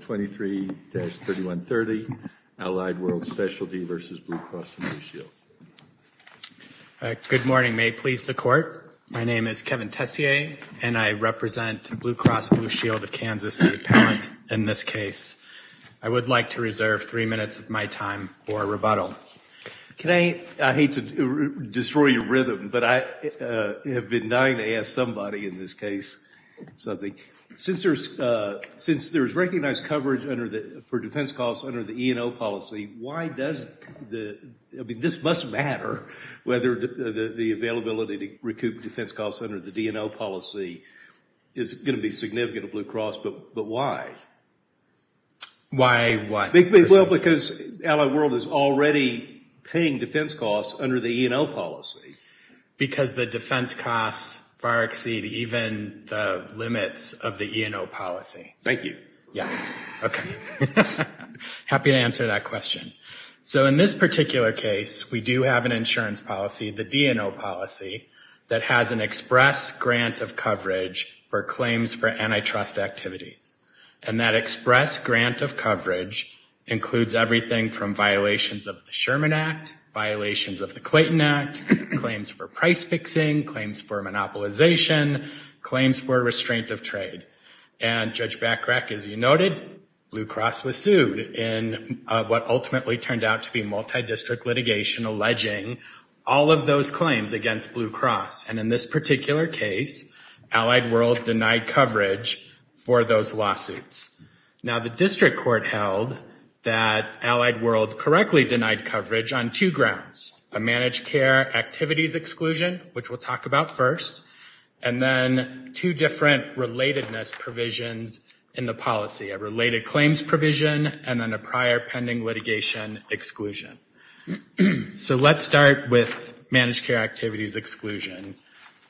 23-3130, Allied World Specialty v. Blue Cross and Blue Shield. Good morning, may it please the Court. My name is Kevin Tessier and I represent Blue Cross Blue Shield of Kansas, the appellant in this case. I would like to reserve three minutes of my time for rebuttal. I hate to destroy your rhythm, but I have been dying to ask somebody in this case something. Since there is recognized coverage for defense costs under the E&O policy, why does the, I mean, this must matter, whether the availability to recoup defense costs under the D&O policy is going to be significant at Blue Cross, but why? Why what? Well, because Allied World is already paying defense costs under the E&O policy. Because the defense costs far exceed even the limits of the E&O policy. Thank you. Yes. Okay. Happy to answer that question. So in this particular case, we do have an insurance policy, the D&O policy, that has an express grant of coverage for claims for antitrust activities. And that express grant of coverage includes everything from violations of the Sherman Act, violations of the Clayton Act, claims for price fixing, claims for monopolization, claims for restraint of trade. And Judge Bachrach, as you noted, Blue Cross was sued in what ultimately turned out to be multi-district litigation alleging all of those claims against Blue Cross. And in this particular case, Allied World denied coverage for those lawsuits. Now, the district court held that Allied World correctly denied coverage on two grounds, a managed care activities exclusion, which we'll talk about first, and then two different relatedness provisions in the policy, a related claims provision, and then a prior pending litigation exclusion. So let's start with managed care activities exclusion.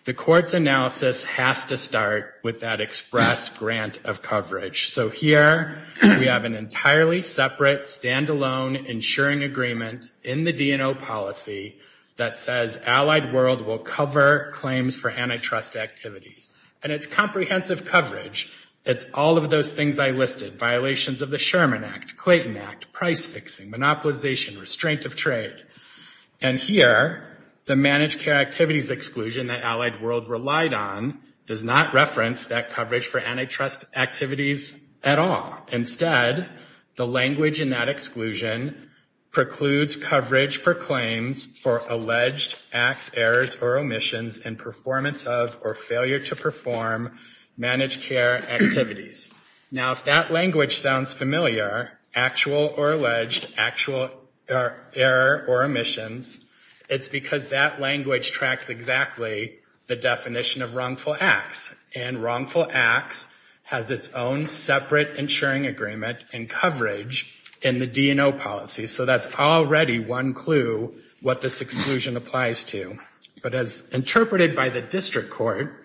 The court's analysis has to start with that express grant of coverage. So here we have an entirely separate, standalone insuring agreement in the D&O policy that says Allied World will cover claims for antitrust activities. And it's comprehensive coverage. It's all of those things I listed, violations of the Sherman Act, Clayton Act, price fixing, monopolization, restraint of trade. And here, the managed care activities exclusion that Allied World relied on does not reference that coverage for antitrust activities at all. Instead, the language in that exclusion precludes coverage for claims for alleged acts, errors, or omissions and performance of or failure to perform managed care activities. Now if that language sounds familiar, actual or alleged, actual error or omissions, it's because that language tracks exactly the definition of wrongful acts. And wrongful acts has its own separate insuring agreement and coverage in the D&O policy. So that's already one clue what this exclusion applies to. But as interpreted by the district court,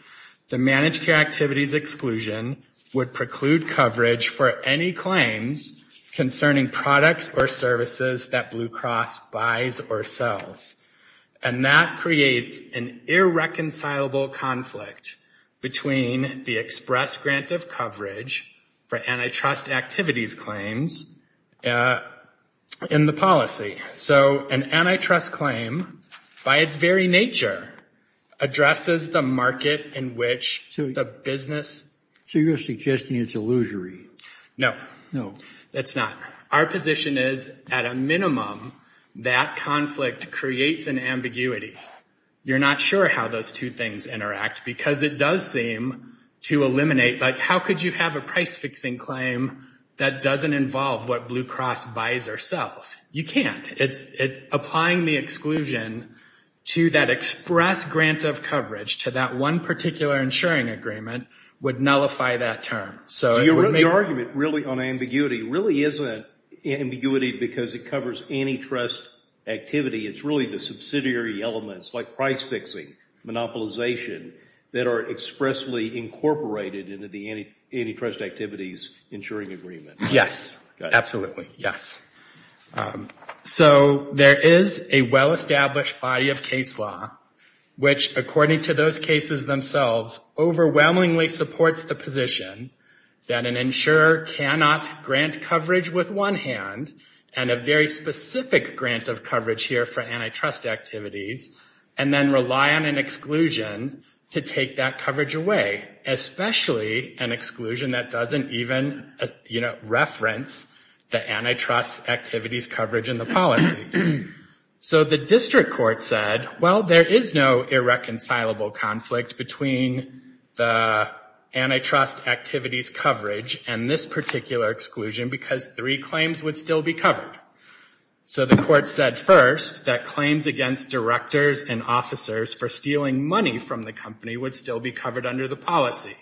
the managed care activities exclusion would preclude coverage for any claims concerning products or services that Blue Cross buys or sells. And that creates an irreconcilable conflict between the express grant of coverage for antitrust activities claims in the policy. So an antitrust claim by its very nature addresses the market in which the business. So you're suggesting it's illusory? No. No. That's not. Our position is at a minimum, that conflict creates an ambiguity. You're not sure how those two things interact because it does seem to eliminate, like how could you have a price fixing claim that doesn't involve what Blue Cross buys or sells? You know, that exclusion to that express grant of coverage to that one particular insuring agreement would nullify that term. So your argument really on ambiguity really isn't ambiguity because it covers antitrust activity. It's really the subsidiary elements like price fixing, monopolization that are expressly incorporated into the antitrust activities insuring agreement. Yes. Absolutely. Yes. So there is a well-established body of case law which, according to those cases themselves, overwhelmingly supports the position that an insurer cannot grant coverage with one hand and a very specific grant of coverage here for antitrust activities and then rely on an exclusion to take that coverage away, especially an exclusion that doesn't even, you know, reference the antitrust activities coverage in the policy. So the district court said, well, there is no irreconcilable conflict between the antitrust activities coverage and this particular exclusion because three claims would still be covered. So the court said first that claims against directors and officers for stealing money from the company would still be covered under the policy.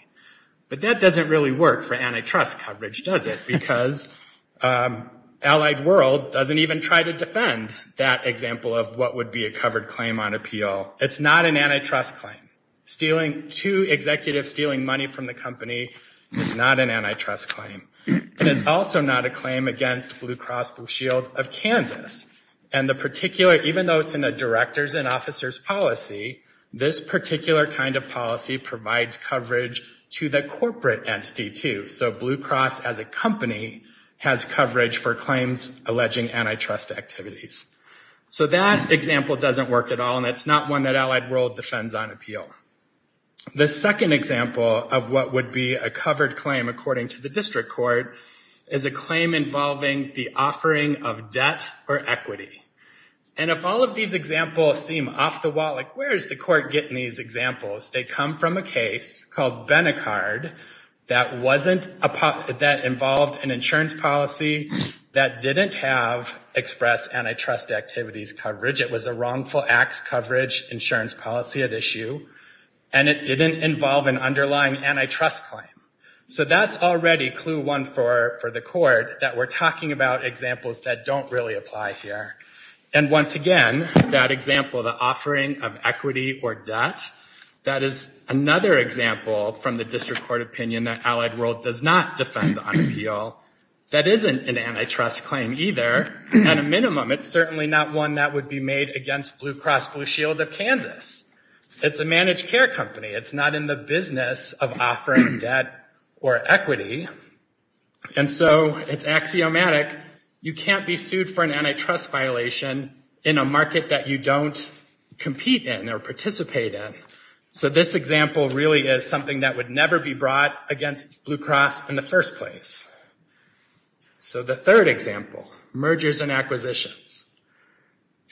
But that doesn't really work for antitrust coverage, does it? Because Allied World doesn't even try to defend that example of what would be a covered claim on appeal. It's not an antitrust claim. Two executives stealing money from the company is not an antitrust claim. And it's also not a claim against Blue Cross Blue Shield of Kansas. And the particular, even though it's in a police officer's policy, this particular kind of policy provides coverage to the corporate entity too. So Blue Cross as a company has coverage for claims alleging antitrust activities. So that example doesn't work at all and it's not one that Allied World defends on appeal. The second example of what would be a covered claim according to the district court is a claim involving the offering of debt or equity. And if all of these examples seem off the wall, like where is the court getting these examples? They come from a case called Benicard that involved an insurance policy that didn't have express antitrust activities coverage. It was a wrongful acts coverage insurance policy at issue and it didn't involve an underlying antitrust claim. So that's already clue one for the court that we're talking about examples that don't really apply here. And once again, that example, the offering of equity or debt, that is another example from the district court opinion that Allied World does not defend on appeal. That isn't an antitrust claim either. At a minimum, it's certainly not one that would be made against Blue Cross Blue Shield of Kansas. It's a managed care company. It's not in the business of offering debt or equity. And so it's axiomatic. You can't be sued for an antitrust violation in a market that you don't compete in or participate in. So this example really is something that would never be brought against Blue Cross in the first place. So the third example, mergers and acquisitions.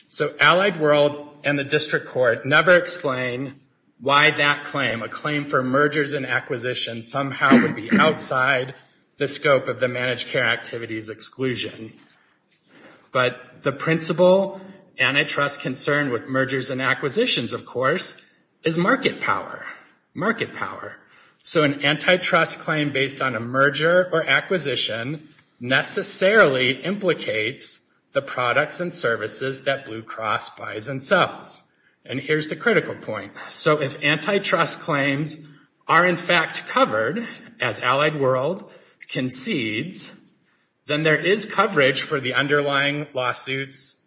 So Allied World and the district court never explain why that claim, a claim for mergers and acquisitions, somehow would be outside the scope of the managed care activities exclusion. But the principal antitrust concern with mergers and acquisitions, of course, is market power. Market power. So an antitrust claim based on a merger or acquisition necessarily implicates the products and services that Blue Cross buys and sells. And here's the critical point. So if antitrust claims are in fact covered as Allied World concedes, then there is coverage for the underlying lawsuits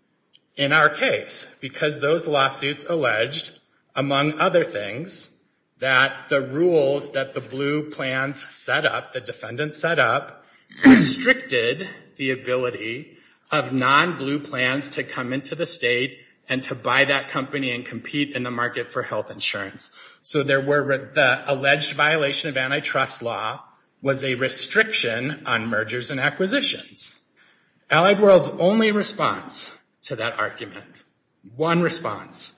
in our case. Because those lawsuits alleged, among other things, that the rules that the Blue plans set up, the defendant set up, restricted the ability of non-Blue plans to come into the state and to buy that company and compete in the market for health insurance. So there were the alleged violation of antitrust law was a restriction on mergers and acquisitions. Allied World's only response to that argument, one response,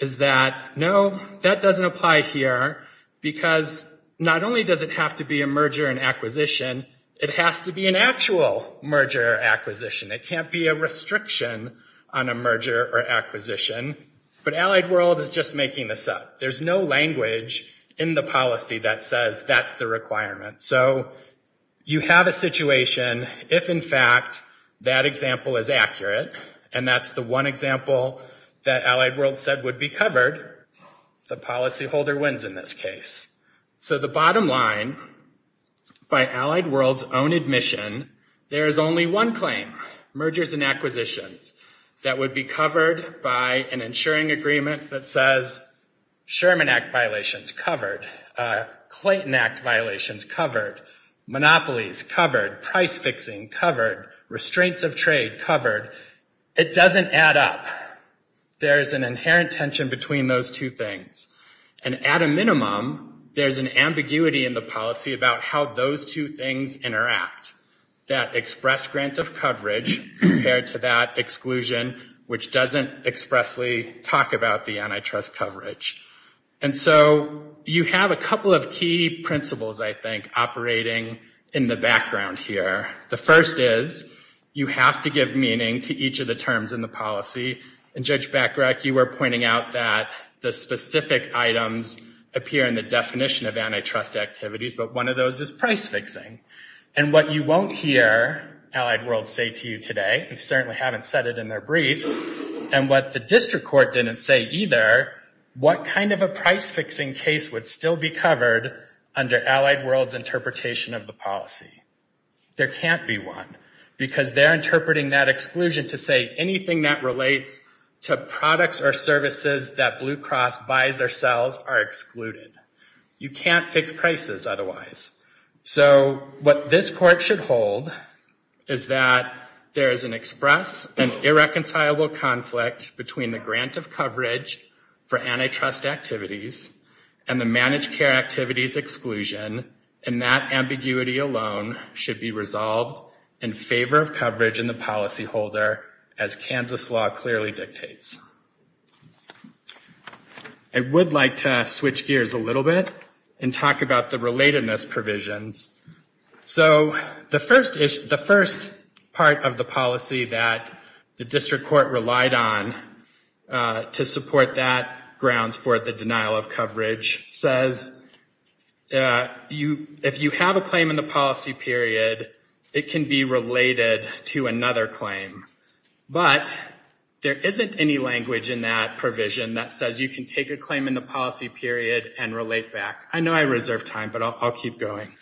is that no, that doesn't apply here because not only does it have to be a merger and acquisition, it has to be an actual merger or acquisition. It can't be a restriction on a merger or acquisition. But Allied World is just making this up. There's no language in the policy that says that's the requirement. So you have a situation if in fact that example is accurate, and that's the one example that Allied World said would be covered, the policyholder wins in this case. So the bottom line by Allied World's own admission, there is only one claim, mergers and acquisitions, that would be covered by an insuring agreement that says Sherman Act violations covered, Clayton Act violations covered, monopolies covered, price fixing covered, restraints of trade covered. It doesn't add up. There's an inherent tension between those two things. And at a minimum, there's an ambiguity in the policy about how those two things interact, that express grant of coverage compared to that exclusion, which doesn't expressly talk about the antitrust coverage. And so you have a couple of key principles, I think, operating in the background here. The first is you have to give meaning to each of the terms in the policy. And Judge Smith talked about the antitrust activities, but one of those is price fixing. And what you won't hear Allied World say to you today, they certainly haven't said it in their briefs, and what the district court didn't say either, what kind of a price fixing case would still be covered under Allied World's interpretation of the policy? There can't be one, because they're interpreting that exclusion to say anything that relates to products or services that Blue Cross buys or sells are excluded. You can't fix prices otherwise. So what this court should hold is that there is an express and irreconcilable conflict between the grant of coverage for antitrust activities and the managed care activities exclusion, and that ambiguity alone should be resolved in favor of coverage in the policy holder, as Kansas law clearly dictates. I would like to switch gears a little bit and talk about the relatedness provisions. So the first part of the policy that the district court relied on to support that grounds for the denial of coverage says if you have a claim in the policy period, it can be related to another claim. But there isn't any language in that provision that says you can take a claim in the policy period and relate back. I know I reserved time, but I'll keep going.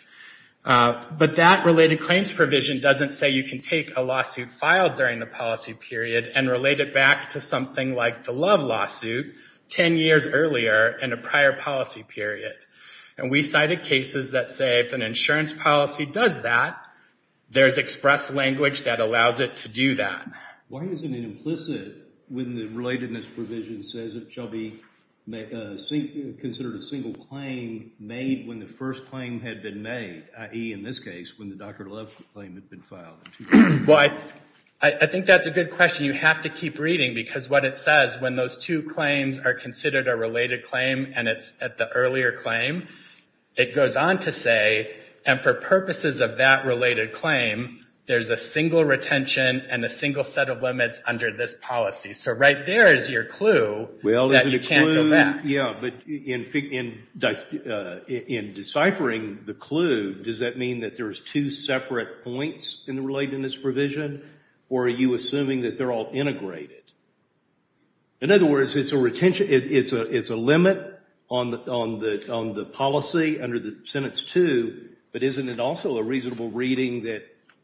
But that related claims provision doesn't say you can take a lawsuit filed during the policy period and relate it back to something like the Love lawsuit 10 years earlier in a prior policy period. And we cited cases that say if an insurance policy does that, there's express language that allows it to do that. Why is it implicit when the relatedness provision says it shall be considered a single claim made when the first claim had been made, i.e., in this case, when the Dr. Love claim had been filed? Well, I think that's a good question. You have to keep reading, because what it says when those two claims are considered a related claim and it's at the earlier claim, it goes on to say, and for purposes of that related claim, there's a single retention and a single set of limits under this policy. So right there is your clue that you can't go back. In deciphering the clue, does that mean that there's two separate points in the relatedness provision, or are you assuming that they're all integrated? In other words, it's a limit on the policy under the sentence two, but isn't it also a reasonable reading that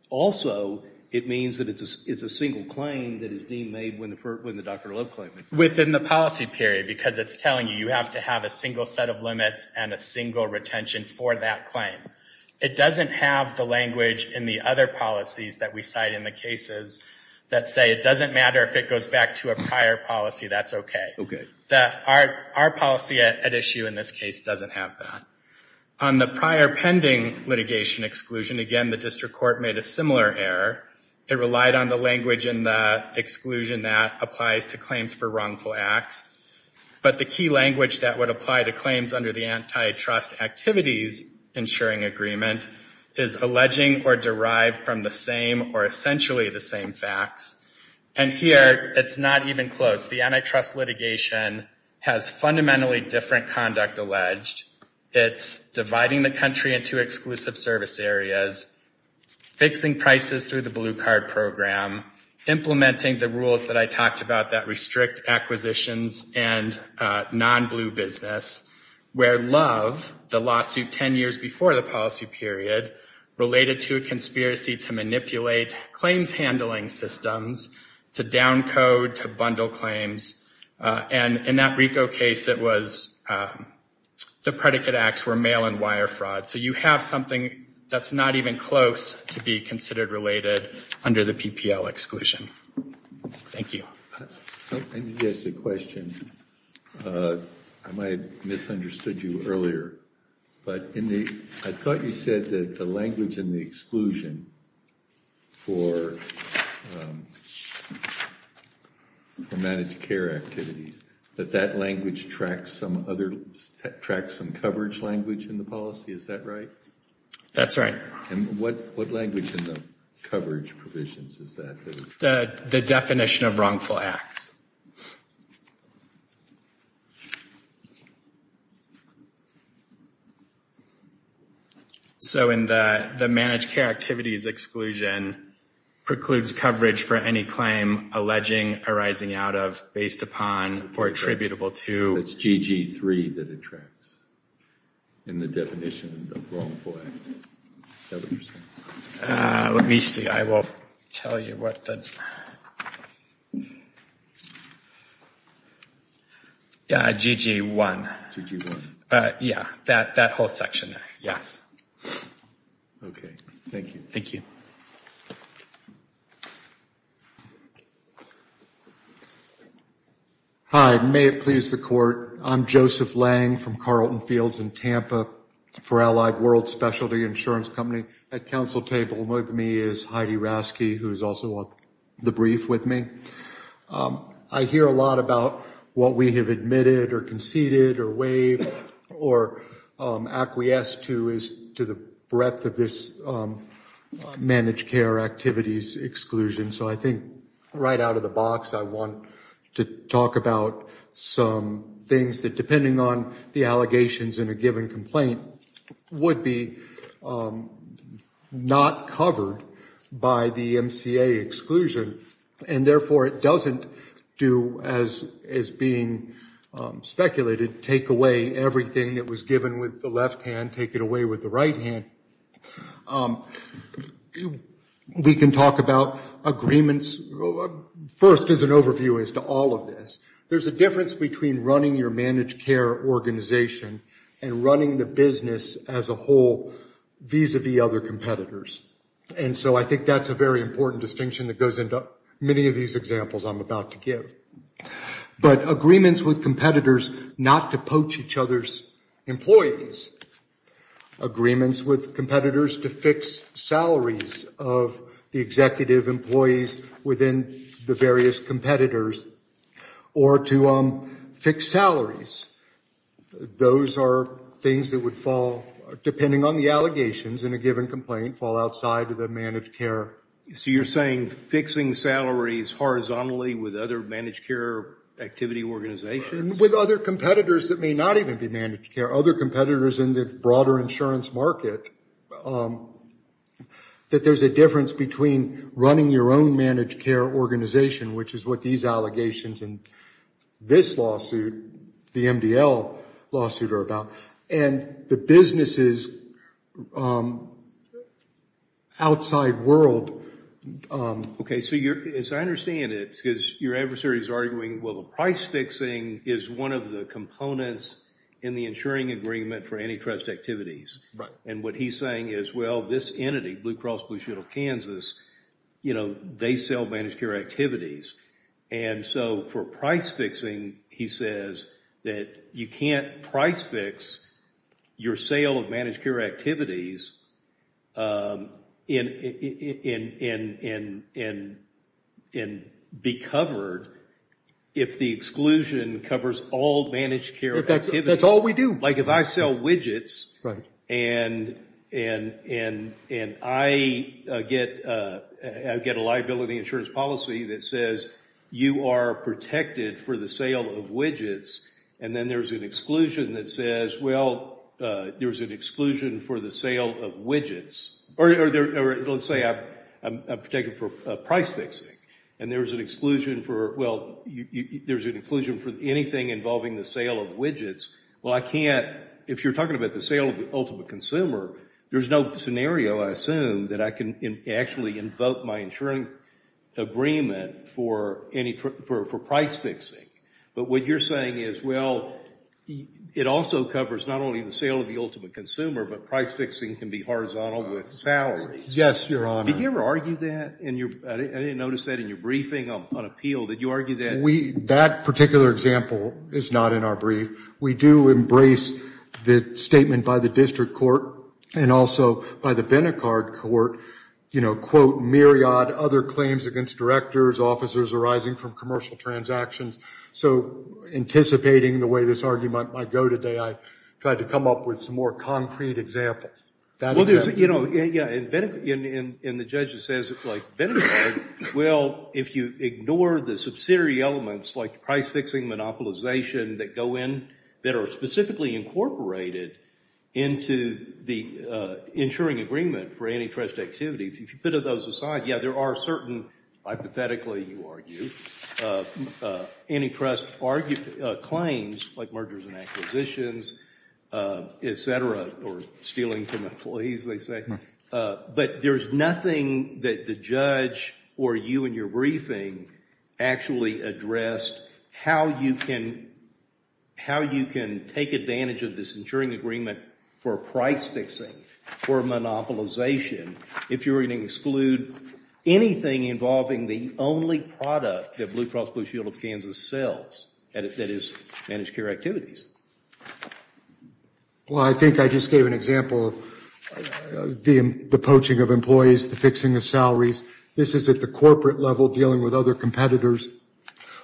also it means that it's a single claim that is being made when the Dr. Love claim is made? Within the policy period, because it's telling you you have to have a single set of limits and a single retention for that claim. It doesn't have the language in the other policies that we cite in the cases that say it doesn't matter if it goes back to a prior policy, that's okay. Our policy at issue in this case doesn't have that. On the prior pending litigation exclusion, again, the district court made a similar error. It relied on the language in the exclusion that applies to claims for wrongful acts, but the key language that would apply to claims under the antitrust activities insuring agreement is alleging or derived from the same or essentially the same facts, and here it's not even close. The antitrust litigation has fundamentally different conduct alleged. It's dividing the country into exclusive service areas, fixing prices through the blue card program, implementing the rules that I talked about that restrict acquisitions and non-blue business where Love, the lawsuit 10 years before the policy period, related to a conspiracy to manipulate claims handling systems, to down code, to bundle claims, and in that RICO case it was the predicate acts were mail and wire fraud, so you have something that's not even close to be considered related under the PPL exclusion. Thank you. I need to ask you a question. I might have misunderstood you earlier, but I thought you said that the language in the exclusion for managed care activities, that that language tracks some coverage language in the policy. Is that right? That's right. What language in the coverage provisions is that? The definition of wrongful acts. So in the managed care activities exclusion precludes coverage for any claim alleging, arising out of, based upon, or attributable to. It's GG3 that it tracks in the definition of wrongful acts. Let me see, I will tell you what the, GG1. Yeah, that whole section there, yes. Okay, thank you. Thank you. Hi, may it please the court, I'm Joseph Lang from Carlton Fields in Tampa for Allied World Specialty Insurance Company. At council table with me is Heidi Rasky, who is also on the brief with me. I hear a lot about what we have admitted or conceded or waived or acquiesced to is to the breadth of this managed care activities exclusion. So I think right out of the box, I want to talk about some things that depending on the allegations in a given complaint, would be not covered by the MCA exclusion. And therefore, it doesn't do as being speculated, take away everything that was given with the left hand, take it away with the right hand. We can talk about agreements, first as an overview as to all of this. There's a difference between running your managed care organization and running the business as a whole vis-a-vis other competitors. And so I think that's a very important distinction that goes into many of these examples I'm about to give. But agreements with competitors not to poach each other's employees, agreements with competitors to fix salaries of the executive employees within the various competitors, or to fix salaries. Those are things that would fall, depending on the allegations in a given complaint, fall outside of the managed care. So you're saying fixing salaries horizontally with other managed care activity organizations? With other competitors that may not even be managed care. Other competitors in the broader insurance market, that there's a difference between running your own managed care organization, which is what these allegations in this lawsuit, the MDL lawsuit are about, and the business's outside world. Okay, so as I understand it, because your adversary is arguing, well the price fixing is one of the components in the insuring agreement for antitrust activities. And what he's saying is well, this entity, Blue Cross Blue Shield of Kansas, they sell managed care activities. And so for price fixing, he says that you can't price fix your sale of managed care activities and be covered if the exclusion is not in the insurance agreement. Exclusion covers all managed care activities. That's all we do. Like if I sell widgets, and I get a liability insurance policy that says you are protected for the sale of widgets, and then there's an exclusion that says, well, there's an exclusion for the sale of widgets. Or let's say I'm protected for price fixing, and there's an exclusion for, well, there's an exclusion for anything involving the sale of widgets. Well, I can't, if you're talking about the sale of the ultimate consumer, there's no scenario I assume that I can actually invoke my insuring agreement for price fixing. But what you're saying is, well, it also covers not only the sale of the ultimate consumer, but price fixing can be horizontal with salaries. Yes, Your Honor. Did you ever argue that? I didn't notice that in your briefing on appeal. Did you argue that? That particular example is not in our brief. We do embrace the statement by the district court and also by the Benicard court, you know, quote, myriad other claims against directors, officers arising from commercial transactions. So anticipating the way this argument might go today, I tried to come up with some more concrete examples. Well, there's, you know, and the judge says, like, Benicard, well, if you ignore the subsidiary elements like price fixing, monopolization that go in, that are specifically incorporated into the insuring agreement for antitrust activity, if you put those aside, yeah, there are certain, hypothetically you argue, antitrust claims like mergers and acquisitions, et cetera, or stealing from employees, they say. But there's nothing that the judge or you in your briefing actually addressed how you can take advantage of this insuring agreement for price fixing, for monopolization, if you're going to exclude anything involving the only product that Blue Cross Blue Shield of Kansas sells that is managed care activities. Well, I think I just gave an example of the poaching of employees, the fixing of salaries. This is at the corporate level dealing with other competitors.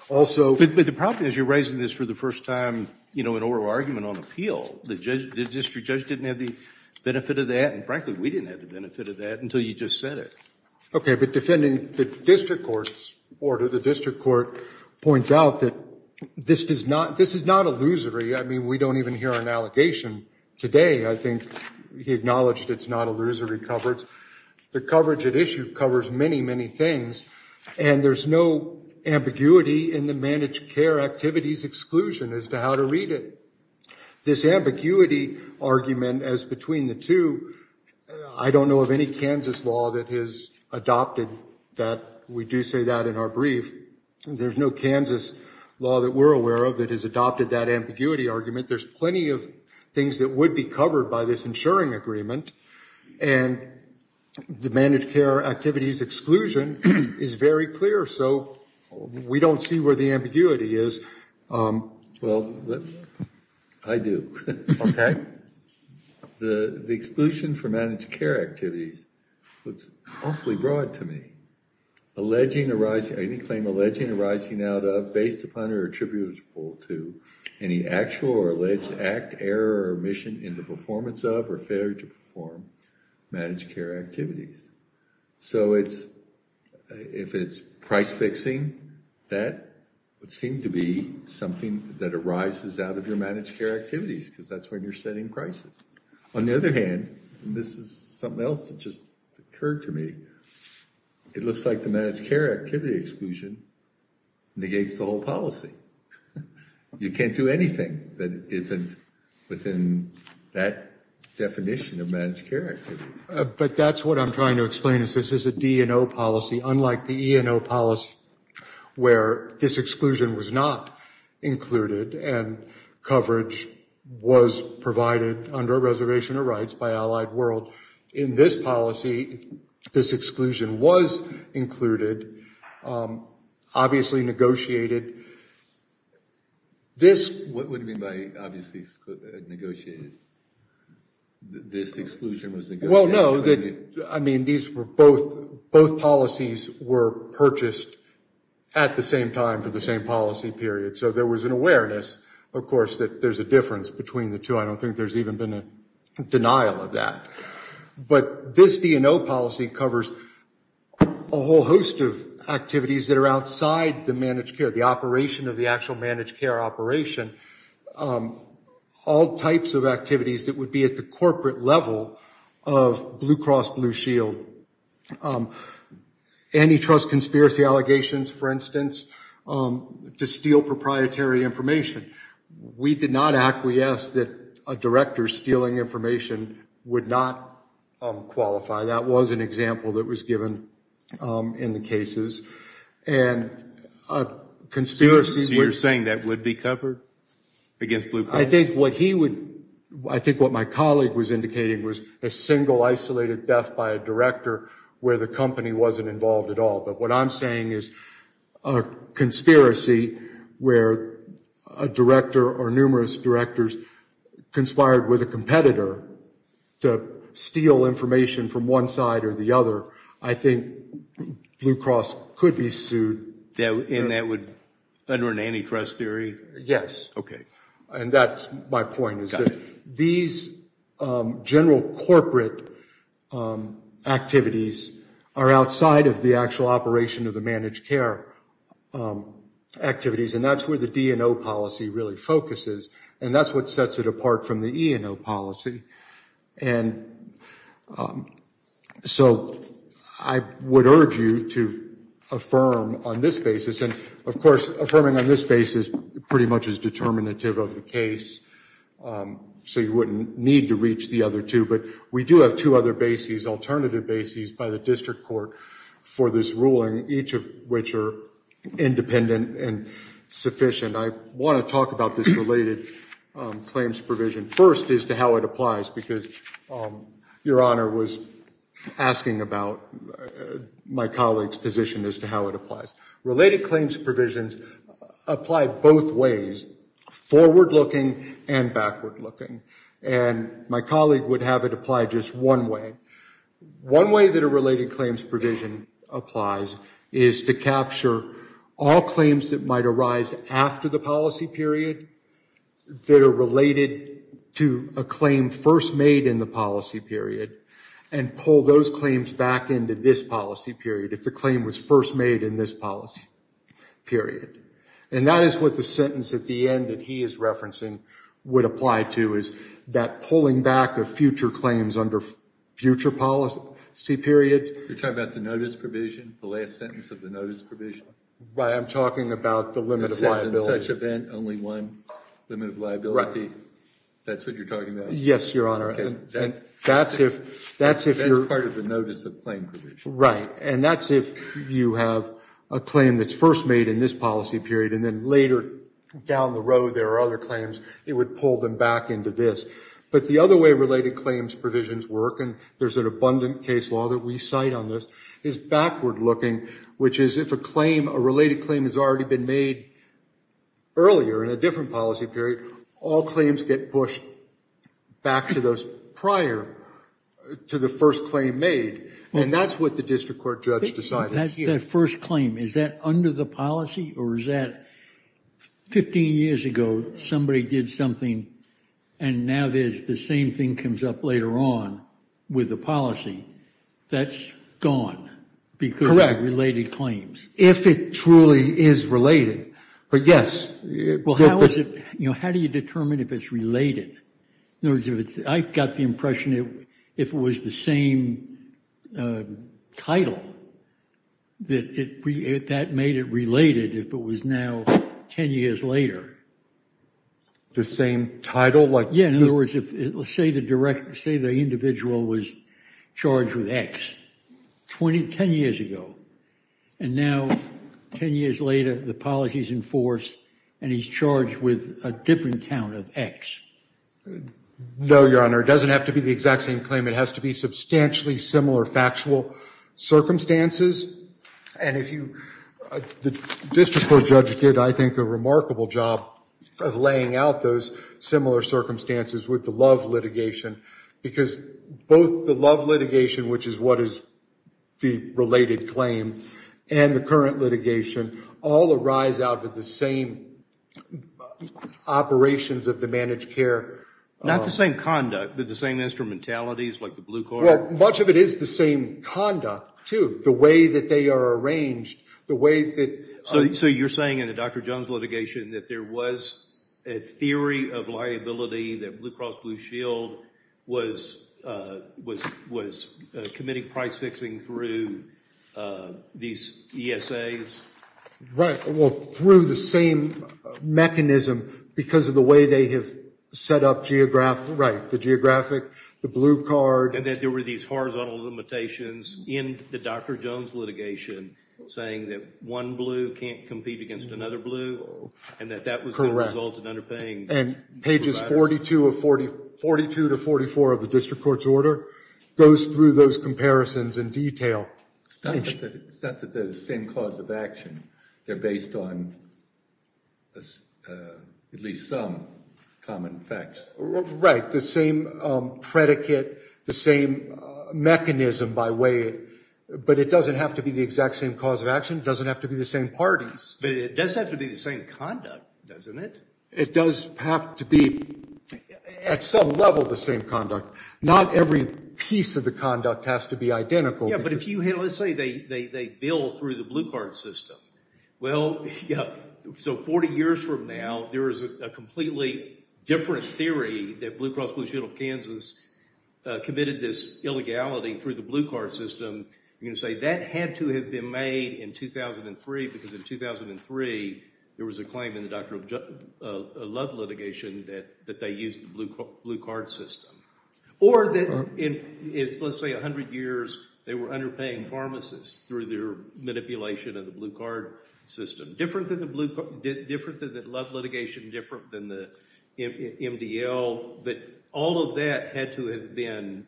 Also... But the problem is you're raising this for the first time, you know, in oral argument on appeal. The district judge didn't have the benefit of that, and frankly, we didn't have the benefit of that until you just said it. Okay, but defending the district court's order, the district court points out that this is not illusory. I mean, we don't even hear an allegation today. I think he acknowledged it's not illusory coverage. The coverage at issue covers many, many things, and there's no ambiguity in the managed care activities exclusion as to how to read it. This ambiguity argument as between the two, I don't know of any Kansas law that has adopted that. We are aware of that has adopted that ambiguity argument. There's plenty of things that would be covered by this insuring agreement, and the managed care activities exclusion is very clear, so we don't see where the ambiguity is. Well, I do. The exclusion for managed care activities looks awfully broad to me. Alleging arising, any claim alleging arising out of, based upon, or attributable to, any actual or alleged act, error, or omission in the performance of, or failure to perform managed care activities. So if it's price fixing, that would seem to be something that arises out of your managed care activities, because that's when you're setting prices. On the other hand, and this is something else that just occurred to me, it looks like the managed care activity exclusion negates the whole policy. You can't do anything that isn't within that definition of managed care activities. But that's what I'm trying to explain, is this is a D and O policy, unlike the E and O policy, where this exclusion was not included, and coverage was provided under a reservation of rights by Allied World. In this policy, this exclusion was included, obviously negotiated. This- What do you mean by obviously negotiated? This exclusion was negotiated? Well, no, I mean, these were both, both policies were purchased at the same time for the same policy period. So there was an awareness, of course, that there's a difference between the two. I don't think there's even been a denial of that. But this D and O policy covers a whole host of activities that are outside the managed care, the operation of the actual managed care operation, all types of activities that would be at the corporate level of Blue Cross Blue Shield. Antitrust conspiracy allegations, for instance, to steal proprietary information. We did not acquiesce that a director stealing information would not qualify. That was an example that was given in the cases. And a conspiracy- So you're saying that would be covered against Blue Cross? I think what he would, I think what my colleague was indicating was a single isolated theft by a director where the company wasn't involved at all. But what I'm saying is a conspiracy where a director or numerous directors conspired with a competitor to steal information from one side or the other. I think Blue Cross could be sued. And that would, under an antitrust theory? Yes. Okay. And that's my point is that these general corporate activities are outside of the actual operation of the managed care activities. And that's where the DNO policy really focuses. And that's what sets it apart from the ENO policy. And so I would urge you to affirm on this basis. And of course, affirming on this basis pretty much is determinative of the case. So you wouldn't need to reach the other two. But we do have two other bases, alternative bases by the district court for this ruling, each of which are independent and sufficient. I want to talk about this related claims provision first as to how it applies because your honor was asking about my colleague's position as to how it applies. Related claims provisions apply both ways, forward-looking and backward-looking. And my colleague would have it apply just one way. One way that a related claims provision applies is to capture all claims that might arise after the policy period that are related to a claim first made in the policy period and pull those claims back into this policy period if the claim was first made in this policy period. And that is what the sentence at the end that he is referencing would apply to, is that pulling back of future claims under future policy periods. You're talking about the notice provision, the last sentence of the notice provision? Right, I'm talking about the limit of liability. It says in such event, only one limit of liability. That's what you're talking about? Yes, your honor. That's part of the notice of claim provision. Right. And that's if you have a claim that's first made in this policy period and then later down the road there are other claims, it would pull them back into this. But the other way related claims provisions work, and there's an abundant case law that we cite on this, is backward-looking, which is if a claim, a related claim has already been made earlier in a different policy period, all claims get pushed back to those prior to the first claim made. And that's what the district court judge decided here. But if it's that first claim, is that under the policy or is that 15 years ago somebody did something and now there's the same thing comes up later on with the policy, that's gone because of related claims? Correct. If it truly is related, but yes. Well, how is it, you know, how do you determine if it's related? In other words, I got the impression if it was the same title, that made it related if it was now 10 years later. The same title? Yeah, in other words, say the individual was charged with X 10 years ago, and now 10 years later the policy's in force and he's charged with a different count of X. No, Your Honor, it doesn't have to be the exact same claim. It has to be substantially similar factual circumstances. And if you, the district court judge did, I think, a remarkable job of laying out those similar circumstances with the Love litigation, because both the Love litigation, which is what is the related claim, and the current litigation all arise out with the same operations of the managed care. Not the same conduct, but the same instrumentalities like the Blue Court. Well, much of it is the same conduct, too. The way that they are arranged, the way that... So you're saying in the Dr. Jones litigation that there was a theory of liability that Blue Cross Blue Shield was committing price fixing through these ESAs? Right, well, through the same mechanism because of the way they have set up geographic, right, the geographic, the blue card. And that there were these horizontal limitations in the Dr. Jones litigation saying that one blue can't compete against another blue, and that that was the result of underpaying. Correct. And pages 42 to 44 of the district court's order goes through those comparisons in detail. It's not that they're the same cause of action. They're based on at least some common facts. Right, the same predicate, the same mechanism by way of... But it doesn't have to be the exact same cause of action. It doesn't have to be the same parties. But it does have to be the same conduct, doesn't it? It does have to be, at some level, the same conduct. Not every piece of the conduct has to be identical. Yeah, but if you had, let's say, they bill through the blue card system. Well, yeah, so 40 years from now, there is a completely different theory that Blue Cross Blue Shield of Kansas committed this illegality through the blue card system. You're going to say that had to have been made in 2003 because in 2003, there was a claim in the Dr. Love litigation that they used the blue card system. Or that in, let's say, 100 years, they were underpaying pharmacists through their manipulation of the blue card system. Different than the blue card, different than the Love litigation, different than the MDL. But all of that had to have been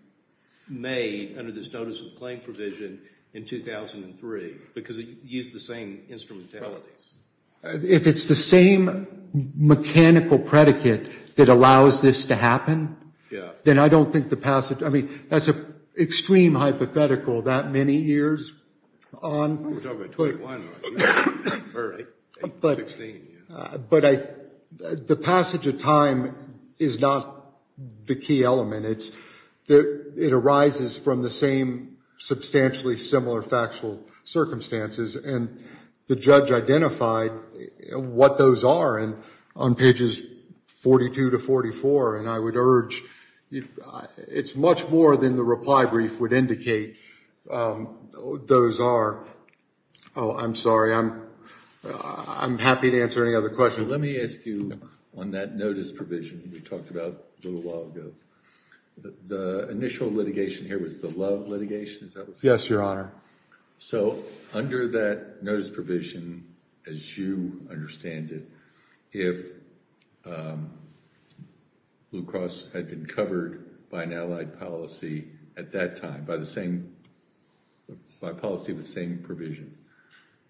made under this Notice of Claim provision in 2003 because it used the same instrumentalities. If it's the same mechanical predicate that allows this to happen, then I don't think the passage, I mean, that's an extreme hypothetical, that many years on. But the passage of time is not the key element. It arises from the same substantially similar factual circumstances, and the judge identified what those are on pages 42 to 44, and I would say it's much more than the reply brief would indicate. Those are, oh, I'm sorry, I'm happy to answer any other questions. Let me ask you on that notice provision we talked about a little while ago. The initial litigation here was the Love litigation, is that what you're saying? Yes, Your Honor. So under that notice provision, as you understand it, if Blue Cross had been covered by an LLC and had an allied policy at that time, by policy with the same provision,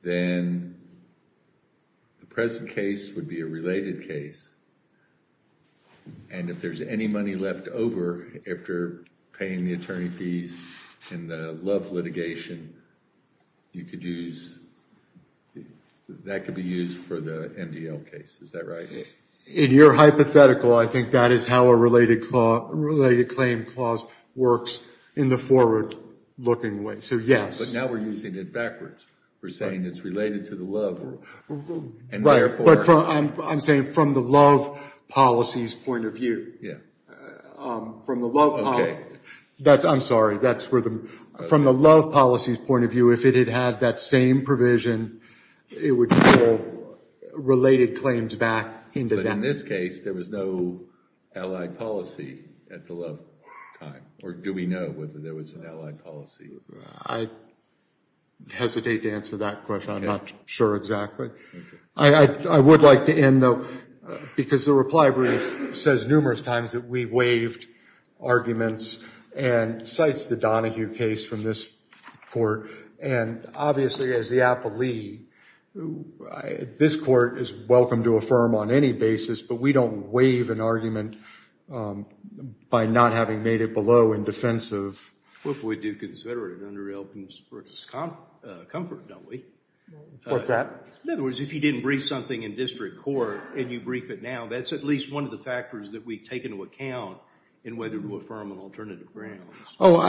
then the present case would be a related case, and if there's any money left over after paying the attorney fees in the Love litigation, that could be used for the MDL case, is that right? In your hypothetical, I think that is how a related claim clause works in the forward looking way, so yes. But now we're using it backwards. We're saying it's related to the Love, and therefore... Right, but I'm saying from the Love policy's point of view. Yeah. From the Love policy, I'm sorry, from the Love policy's point of view, if it had had that same provision, it would pull related claims back into that. But in this case, there was no allied policy at the Love time, or do we know whether there was an allied policy? I hesitate to answer that question. I'm not sure exactly. I would like to end, though, because the reply brief says numerous times that we waived arguments and cites the Donahue case from this court, and obviously, as the appellee, this court is welcome to affirm on any basis, but we don't waive an argument by not having made it below in defense of... We do consider it under Elkins versus Comfort, don't we? What's that? In other words, if you didn't brief something in district court, and you brief it now, that's at least one of the factors that we take into account in whether to affirm an alternative grant. Oh,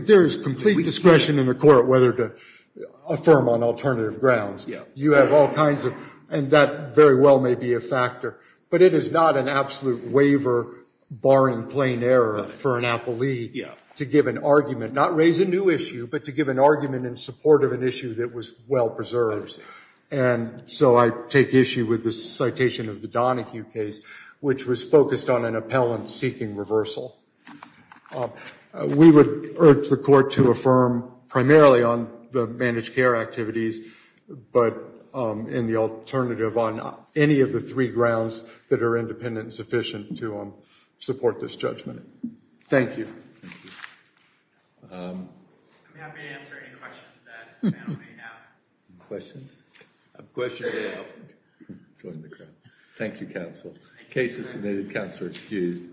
there is complete discretion in the court whether to affirm on alternative grounds. You have all kinds of, and that very well may be a factor, but it is not an absolute waiver barring plain error for an appellee to give an argument, not raise a new issue, but to give an argument in support of an issue that was well-preserved. And so I take issue with the citation of the Donahue case, which was focused on an appellant seeking reversal. We would urge the court to affirm primarily on the managed care activities, but in the alternative on any of the three grounds that are independent and sufficient to support this judgment. Thank you. I'm happy to answer any questions that the panel may have. Questions? I have a question about... Thank you, counsel. The case is submitted. Counselor excused.